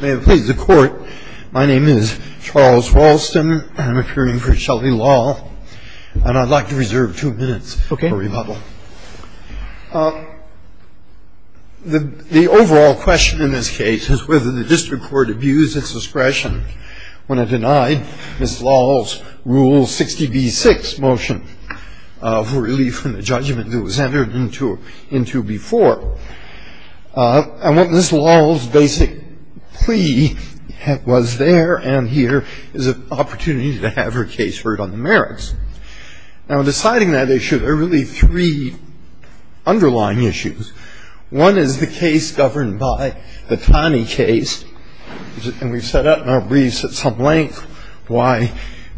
May it please the court, my name is Charles Walston, and I'm appearing for Shelly Lal, and I'd like to reserve two minutes for rebuttal. The overall question in this case is whether the district court abused its discretion when it denied Ms. Lal's Rule 60b-6 motion for relief from the judgment that was entered into before. And what Ms. Lal's basic plea was there and here is an opportunity to have her case heard on the merits. Now, in deciding that issue, there are really three underlying issues. One is the case governed by the Taney case, and we've set out in our briefs at some length why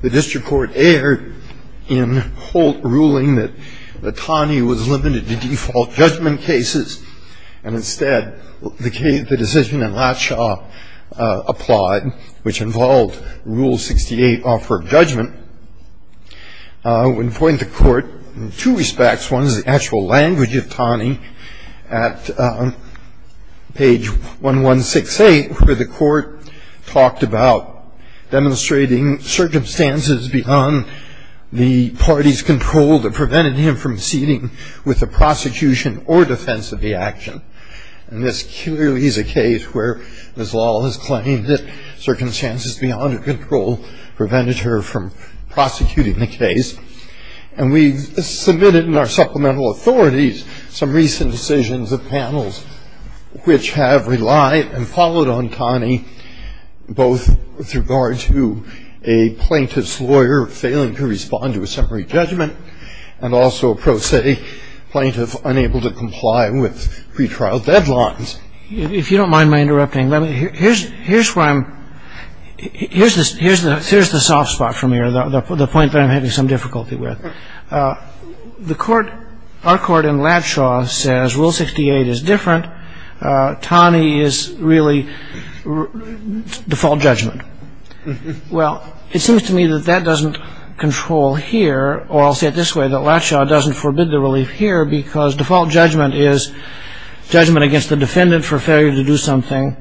the district court erred in Holt ruling that the Taney was limited to default judgment cases. And instead, the decision in a nutshell applied, which involved Rule 68 offer of judgment. When pointing to court in two respects, one is the actual language of Taney at page 1168, where the court talked about demonstrating circumstances beyond the party's control that prevented him from proceeding with the prosecution or defense of the action. And this clearly is a case where Ms. Lal has claimed that circumstances beyond her control prevented her from prosecuting the case. And we submitted in our supplemental authorities some recent decisions of panels, which have relied and followed on Taney, both with regard to a plaintiff's lawyer failing to respond to a summary judgment and also a pro se plaintiff unable to comply with pretrial deadlines. If you don't mind my interrupting, here's where I'm, here's the soft spot from here, the point that I'm having some difficulty with. The court, our court in Latshaw says Rule 68 is different. Taney is really default judgment. Well, it seems to me that that doesn't control here. Or I'll say it this way, that Latshaw doesn't forbid the relief here because default judgment is judgment against the defendant for failure to do something.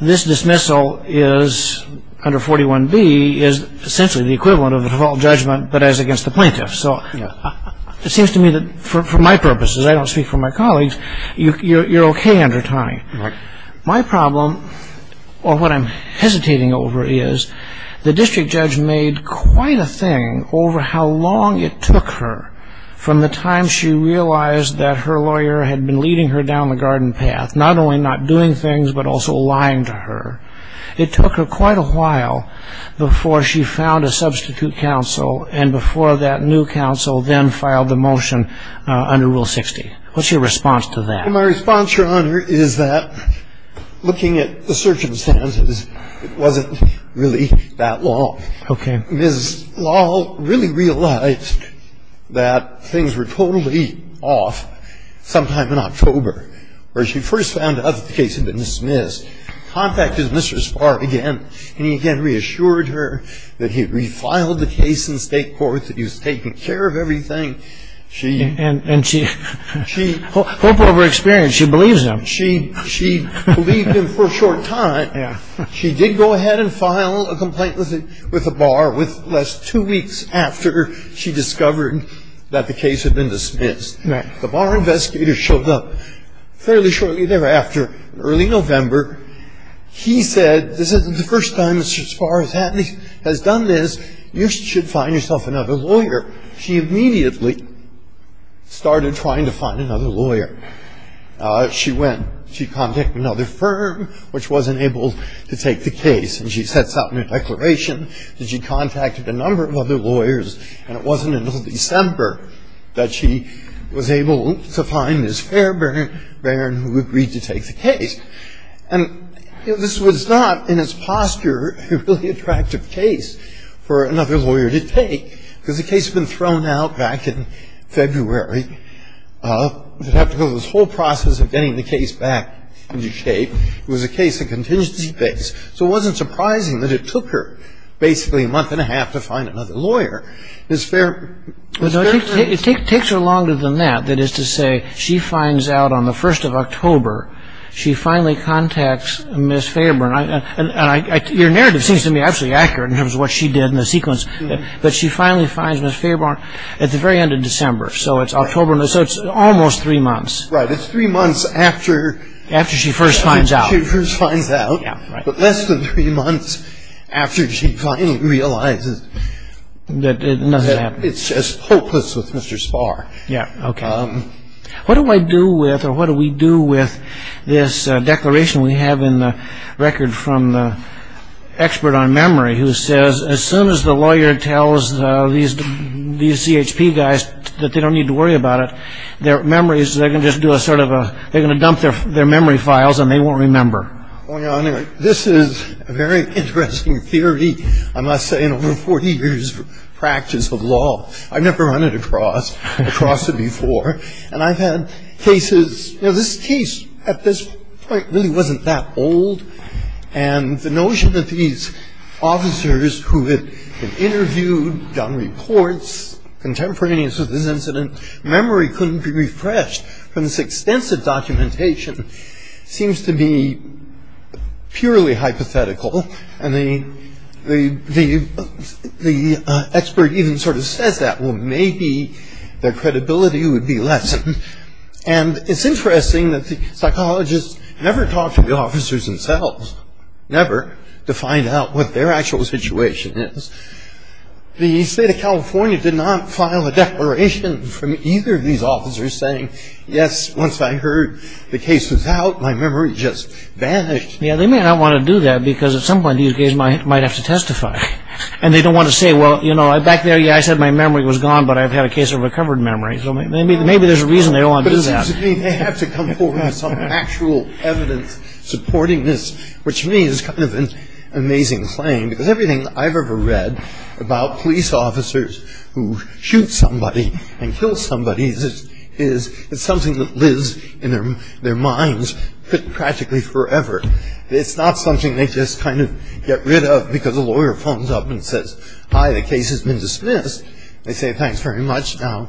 This dismissal is, under 41B, is essentially the equivalent of default judgment, but as against the plaintiff. So it seems to me that for my purposes, I don't speak for my colleagues, you're okay under Taney. My problem, or what I'm hesitating over is, the district judge made quite a thing over how long it took her from the time she realized that her lawyer had been leading her down the garden path, not only not doing things, but also lying to her. It took her quite a while before she found a substitute counsel and before that new counsel then filed the motion under Rule 60. What's your response to that? My response, Your Honor, is that looking at the circumstances, it wasn't really that long. Okay. Ms. Lal really realized that things were totally off sometime in October when she first found out that the case had been dismissed, contacted Mr. Spahr again, and he again reassured her that he had refiled the case in state court, that he was taking care of everything. And she, hope over experience, she believes him. She believed him for a short time. She did go ahead and file a complaint with the bar less two weeks after she discovered that the case had been dismissed. The bar investigator showed up fairly shortly thereafter, early November. He said, this isn't the first time Mr. Spahr has done this. You should find yourself another lawyer. She immediately started trying to find another lawyer. She went. She contacted another firm, which wasn't able to take the case, and she sets out in her declaration that she contacted a number of other lawyers, and it wasn't until December that she was able to find Ms. Fairbairn, who agreed to take the case. And this was not, in its posture, a really attractive case for another lawyer to take, because the case had been thrown out back in February. She'd have to go through this whole process of getting the case back into shape. It was a case of contingency base. So it wasn't surprising that it took her basically a month and a half to find another lawyer. Ms. Fairbairn. It takes her longer than that, that is to say, she finds out on the 1st of October. She finally contacts Ms. Fairbairn. Your narrative seems to me absolutely accurate in terms of what she did in the sequence. But she finally finds Ms. Fairbairn at the very end of December. So it's October. So it's almost three months. Right. It's three months after. After she first finds out. After she first finds out. Yeah, right. But less than three months after she finally realizes that it's just hopeless with Mr. Spahr. Yeah. Okay. What do I do with or what do we do with this declaration we have in the record from the expert on memory who says, as soon as the lawyer tells these CHP guys that they don't need to worry about it, their memories, they're going to just do a sort of a, they're going to dump their memory files and they won't remember. Oh, yeah. Anyway, this is a very interesting theory, I must say, in over 40 years' practice of law. I've never run it across, across it before. And I've had cases, you know, this case at this point really wasn't that old. And the notion that these officers who had been interviewed, done reports, contemporaneous with this incident, memory couldn't be refreshed from this extensive documentation seems to be purely hypothetical. And the expert even sort of says that. Well, maybe their credibility would be lessened. And it's interesting that the psychologists never talked to the officers themselves, never, to find out what their actual situation is. The state of California did not file a declaration from either of these officers saying, yes, once I heard the case was out, my memory just vanished. Yeah, they may not want to do that because at some point these guys might have to testify. And they don't want to say, well, you know, back there, yeah, I said my memory was gone, but I've had a case of recovered memory. So maybe there's a reason they don't want to do that. But it seems to me they have to come forward with some actual evidence supporting this, which to me is kind of an amazing claim because everything I've ever read about police officers who shoot somebody and kill somebody is something that lives in their minds practically forever. It's not something they just kind of get rid of because a lawyer phones up and says, hi, the case has been dismissed. They say, thanks very much. Now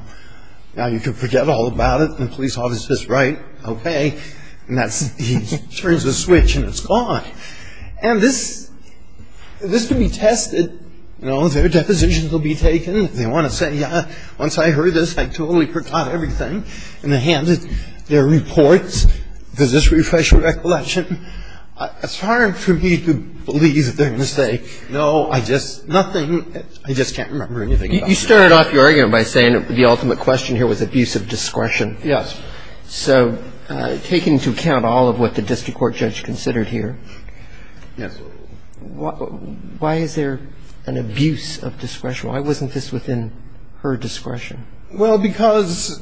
you can forget all about it. And the police officer says, right, okay. And he turns the switch and it's gone. And this can be tested. You know, their depositions will be taken. They want to say, yeah, once I heard this, I totally forgot everything. And they hand their reports. Does this refresh your recollection? It's hard for me to believe that they're going to say, no, I just, nothing, I just can't remember anything about it. You started off your argument by saying the ultimate question here was abuse of discretion. Yes. So take into account all of what the district court judge considered here. Yes. Why is there an abuse of discretion? Why wasn't this within her discretion? Well, because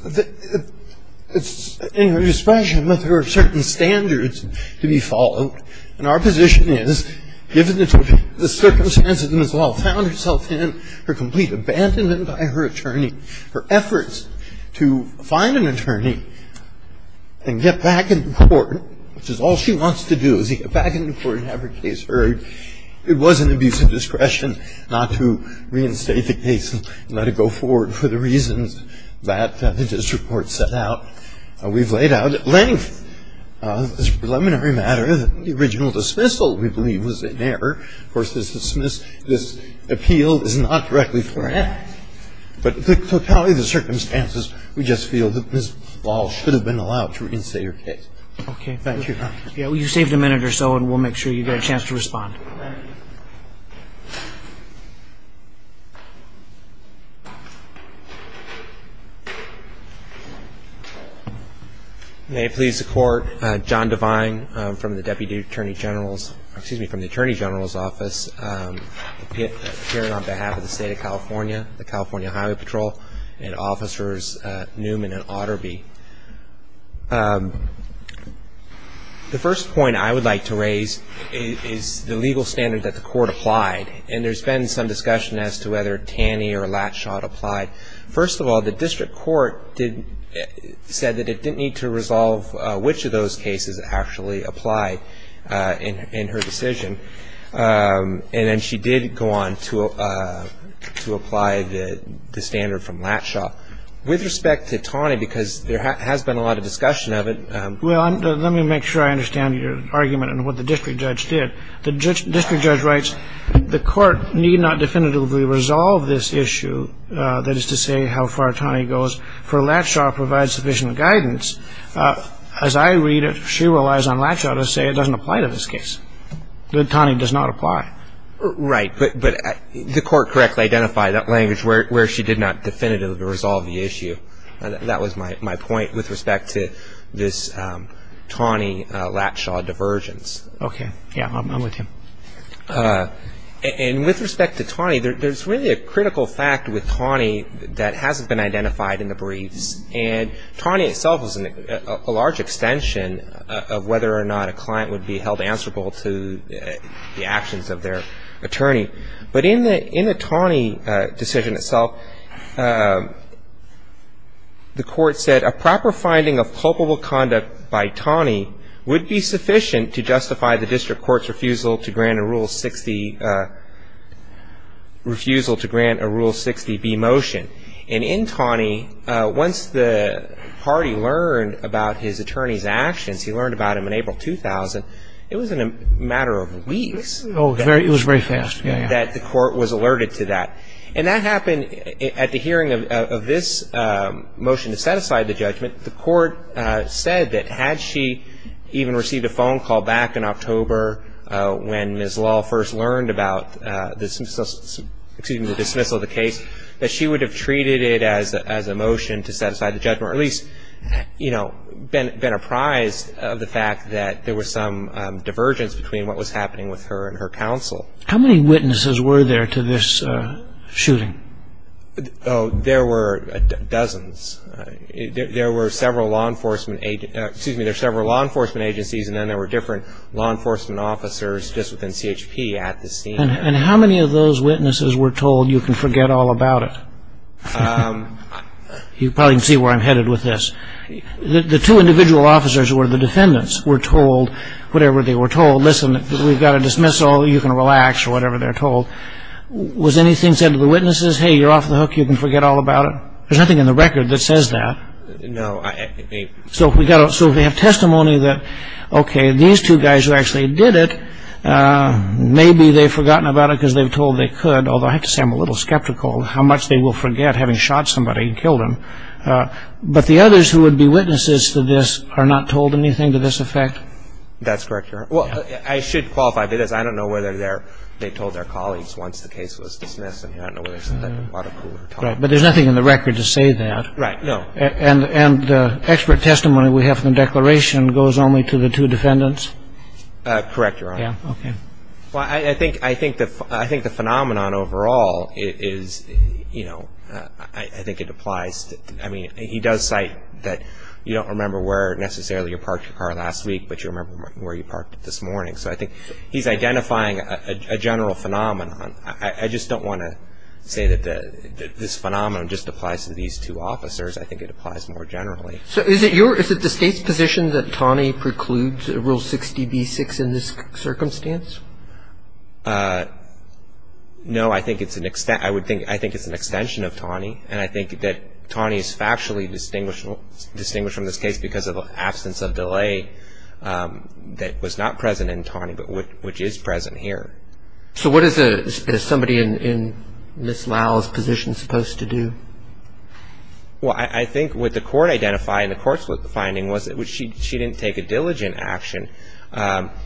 it's in her discretion that there are certain standards to be followed. And our position is given the circumstances in which the law found herself in, her complete abandonment by her attorney, her efforts to find an attorney and get back in court, which is all she wants to do is get back in court and have her case heard. It was an abuse of discretion not to reinstate the case and let it go forward for the reasons that the district court set out. We've laid out at length this preliminary matter. The original dismissal, we believe, was in error. Of course, this appeal is not directly for an act. But totality of the circumstances, we just feel that Ms. Ball should have been allowed to reinstate her case. Okay. Thank you. You saved a minute or so, and we'll make sure you get a chance to respond. Thank you. May it please the Court, John Devine from the Deputy Attorney General's, excuse me, from the Attorney General's Office, appearing on behalf of the State of California, the California Highway Patrol, and Officers Newman and Otterby. The first point I would like to raise is the legal standard that the court applied. And there's been some discussion as to whether Taney or Latschot applied. First of all, the district court said that it didn't need to resolve which of those cases actually applied in her decision. And then she did go on to apply the standard from Latschot. With respect to Taney, because there has been a lot of discussion of it. Well, let me make sure I understand your argument and what the district judge did. The district judge writes, the court need not definitively resolve this issue, that is to say, how far Taney goes, for Latschot provides sufficient guidance. As I read it, she relies on Latschot to say it doesn't apply to this case. That Taney does not apply. Right. But the court correctly identified that language where she did not definitively resolve the issue. That was my point with respect to this Taney-Latschot divergence. Okay. Yeah, I'm with you. And with respect to Taney, there's really a critical fact with Taney that hasn't been identified in the briefs. And Taney itself is a large extension of whether or not a client would be held answerable to the actions of their attorney. But in the Taney decision itself, the court said a proper finding of culpable conduct by Taney would be sufficient to justify the district court's refusal to grant a Rule 60B motion. And in Taney, once the party learned about his attorney's actions, he learned about them in April 2000, it was in a matter of weeks that the court was alerted to that. And that happened at the hearing of this motion to set aside the judgment. The court said that had she even received a phone call back in October when Ms. Law first learned about the dismissal of the case, that she would have treated it as a motion to set aside the judgment or at least been apprised of the fact that there was some divergence between what was happening with her and her counsel. How many witnesses were there to this shooting? Oh, there were dozens. There were several law enforcement agencies and then there were different law enforcement officers just within CHP at the scene. And how many of those witnesses were told you can forget all about it? You probably can see where I'm headed with this. The two individual officers who were the defendants were told whatever they were told, listen, we've got a dismissal, you can relax or whatever they're told. Was anything said to the witnesses, hey, you're off the hook, you can forget all about it? There's nothing in the record that says that. No. So we have testimony that, okay, these two guys who actually did it, maybe they've forgotten about it because they were told they could, although I have to say I'm a little skeptical how much they will forget, having shot somebody and killed him. But the others who would be witnesses to this are not told anything to this effect? That's correct, Your Honor. Well, I should qualify because I don't know whether they told their colleagues once the case was dismissed. I don't know whether there's a second article. Right, but there's nothing in the record to say that. Right, no. And the expert testimony we have from the declaration goes only to the two defendants? Correct, Your Honor. Yeah, okay. Well, I think the phenomenon overall is, you know, I think it applies. I mean, he does cite that you don't remember where necessarily you parked your car last week, but you remember where you parked it this morning. So I think he's identifying a general phenomenon. I just don't want to say that this phenomenon just applies to these two officers. I think it applies more generally. So is it the State's position that Taney precludes Rule 60b-6 in this circumstance? No, I think it's an extension of Taney, and I think that Taney is factually distinguished from this case because of the absence of delay that was not present in Taney but which is present here. So what is somebody in Ms. Lau's position supposed to do? Well, I think what the Court identified in the Court's finding was that she didn't take a diligent action. From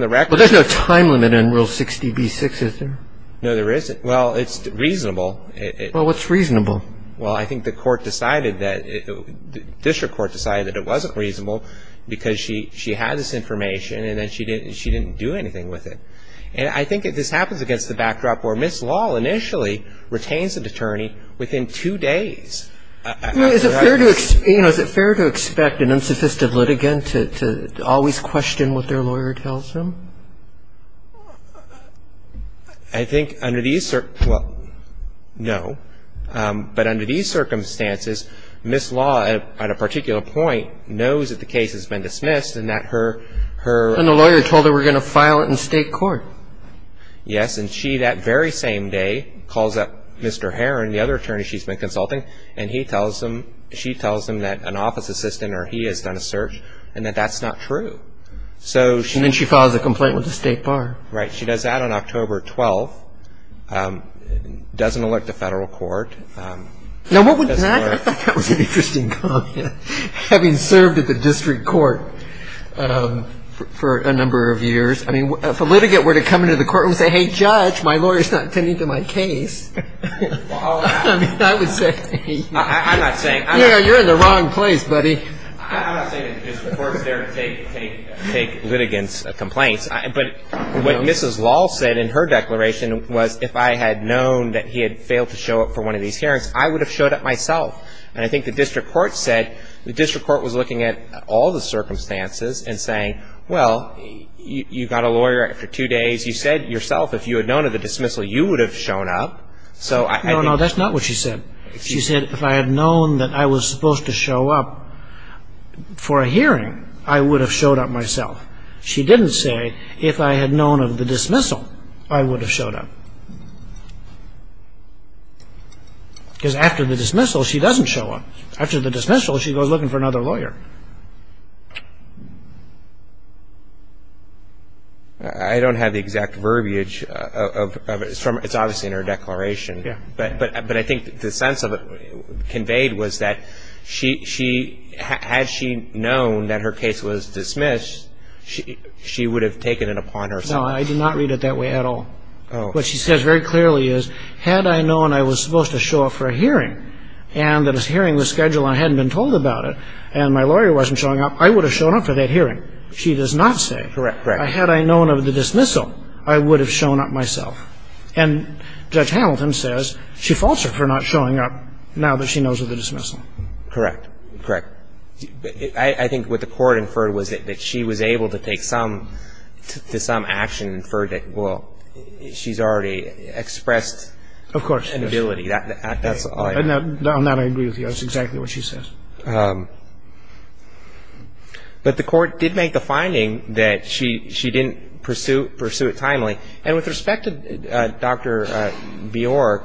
the record. But there's no time limit in Rule 60b-6, is there? No, there isn't. Well, it's reasonable. Well, what's reasonable? Well, I think the court decided that the district court decided that it wasn't reasonable because she had this information and then she didn't do anything with it. And I think this happens against the backdrop where Ms. Lau initially retains an attorney within two days. Is it fair to expect an unsophisticated litigant to always question what their lawyer tells them? I think under these circumstances, well, no. And the lawyer told her we're going to file it in state court. Yes. And she, that very same day, calls up Mr. Herron, the other attorney she's been consulting, and she tells him that an office assistant or he has done a search and that that's not true. And then she files a complaint with the state bar. Right. She does that on October 12th, doesn't elect a federal court. Now, I thought that was an interesting comment, having served at the district court for a number of years. I mean, if a litigant were to come into the court and say, hey, judge, my lawyer's not attending to my case, I mean, I would say. I'm not saying. Yeah, you're in the wrong place, buddy. I'm not saying that the district court's there to take litigants' complaints. But what Mrs. Law said in her declaration was if I had known that he had failed to show up for one of these hearings, I would have showed up myself. And I think the district court said, the district court was looking at all the circumstances and saying, well, you got a lawyer after two days. You said yourself if you had known of the dismissal, you would have shown up. No, no, that's not what she said. She said if I had known that I was supposed to show up for a hearing, I would have showed up myself. She didn't say if I had known of the dismissal, I would have showed up. Because after the dismissal, she doesn't show up. After the dismissal, she goes looking for another lawyer. I don't have the exact verbiage of it. It's obviously in her declaration. Yeah. But I think the sense of it conveyed was that had she known that her case was dismissed, she would have taken it upon herself. No, I did not read it that way at all. What she says very clearly is had I known I was supposed to show up for a hearing and that a hearing was scheduled and I hadn't been told about it and my lawyer wasn't showing up, I would have shown up for that hearing. She does not say. Correct, correct. Had I known of the dismissal, I would have shown up myself. And Judge Hamilton says she faults her for not showing up now that she knows of the dismissal. Correct. Correct. I think what the Court inferred was that she was able to take some action inferred that, well, she's already expressed inability. Of course. That's all I know. On that, I agree with you. That's exactly what she says. But the Court did make the finding that she didn't pursue it timely. And with respect to Dr. Bjork,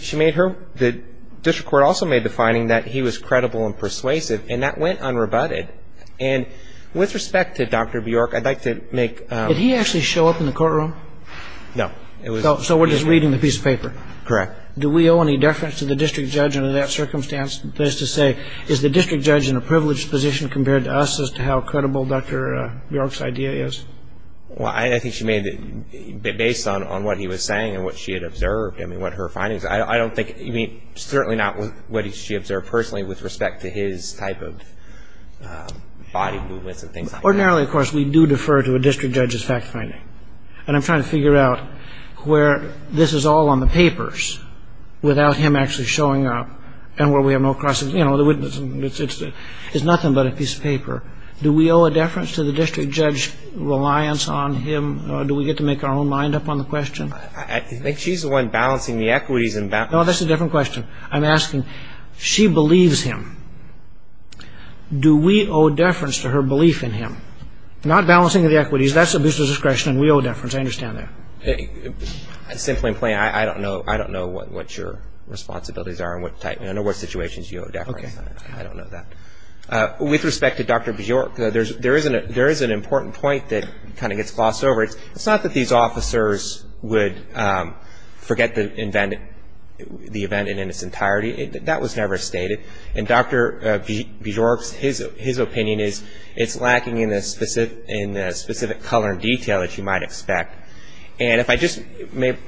she made her – the district court also made the finding that he was credible and persuasive, and that went unrebutted. And with respect to Dr. Bjork, I'd like to make – Did he actually show up in the courtroom? No. So we're just reading the piece of paper. Correct. Do we owe any deference to the district judge under that circumstance? That is to say, is the district judge in a privileged position compared to us as to how credible Dr. Bjork's idea is? Well, I think she made – based on what he was saying and what she had observed, I mean, what her findings – I don't think – I mean, certainly not what she observed personally with respect to his type of body movements and things like that. Ordinarily, of course, we do defer to a district judge's fact-finding. And I'm trying to figure out where this is all on the papers without him actually showing up, and where we have no crosses – you know, the witness – it's nothing but a piece of paper. Do we owe a deference to the district judge's reliance on him? Do we get to make our own mind up on the question? I think she's the one balancing the equities and – No, that's a different question. I'm asking, she believes him. Do we owe deference to her belief in him? Not balancing the equities. That's abuse of discretion, and we owe deference. I understand that. Simply and plain, I don't know what your responsibilities are and what type – I know what situations you owe deference. Okay. I don't know that. With respect to Dr. Bjork, there is an important point that kind of gets glossed over. It's not that these officers would forget the event in its entirety. That was never stated. And Dr. Bjork's – his opinion is it's lacking in the specific color and detail that you might expect. And if I just may –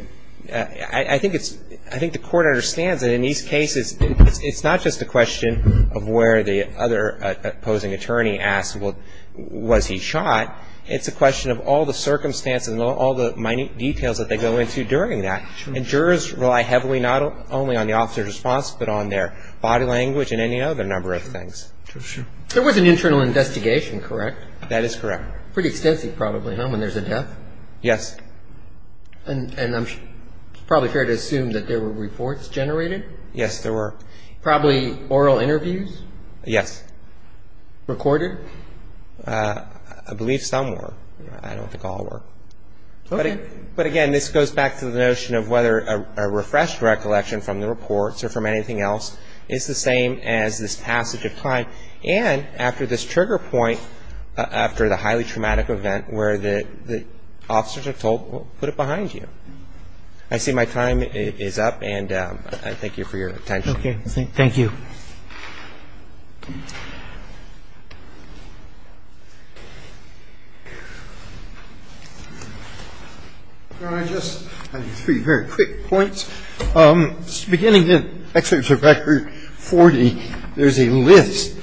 I think it's – I think the Court understands that in these cases, it's not just a question of where the other opposing attorney asks, well, was he shot? It's a question of all the circumstances and all the minute details that they go into during that. And jurors rely heavily not only on the officer's response, but on their body language and any other number of things. There was an internal investigation, correct? That is correct. Pretty extensive probably, huh, when there's a death? Yes. And it's probably fair to assume that there were reports generated? Yes, there were. Probably oral interviews? Yes. Recorded? I believe some were. I don't think all were. Okay. But again, this goes back to the notion of whether a refreshed recollection from the reports or from anything else is the same as this passage of time. And after this trigger point, after the highly traumatic event where the officers are told, well, put it behind you. I see my time is up, and I thank you for your attention. Okay. Thank you. I have three very quick points. Beginning in Excerpt from Record 40, there's a list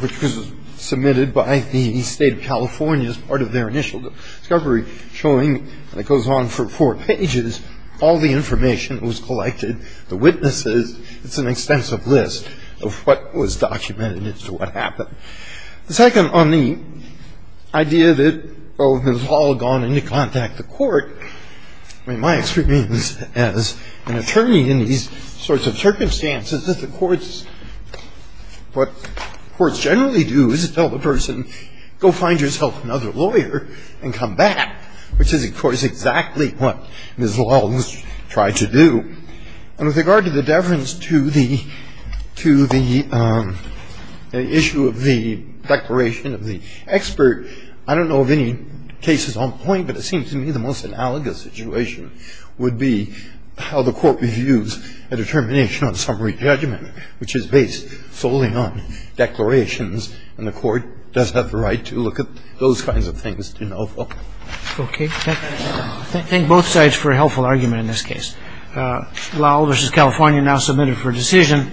which was submitted by the State of California as part of their initial discovery showing, and it goes on for four pages, all the information that was collected, the witnesses. It's an extensive list of what was documented as to what happened. The second on the idea that, well, it has all gone into contact with the court, I mean, my experience as an attorney in these sorts of circumstances is that the courts, what courts generally do is tell the person, go find yourself another lawyer and come back, which is, of course, exactly what Ms. Lowell tried to do. And with regard to the deference to the issue of the declaration of the expert, I don't know of any cases on point, but it seems to me the most analogous situation would be how the court reviews a determination on summary judgment, which is based solely on declarations, and the court does have the right to look at those kinds of things, you know. Okay. Thank both sides for a helpful argument in this case. Lowell v. California now submitted for decision.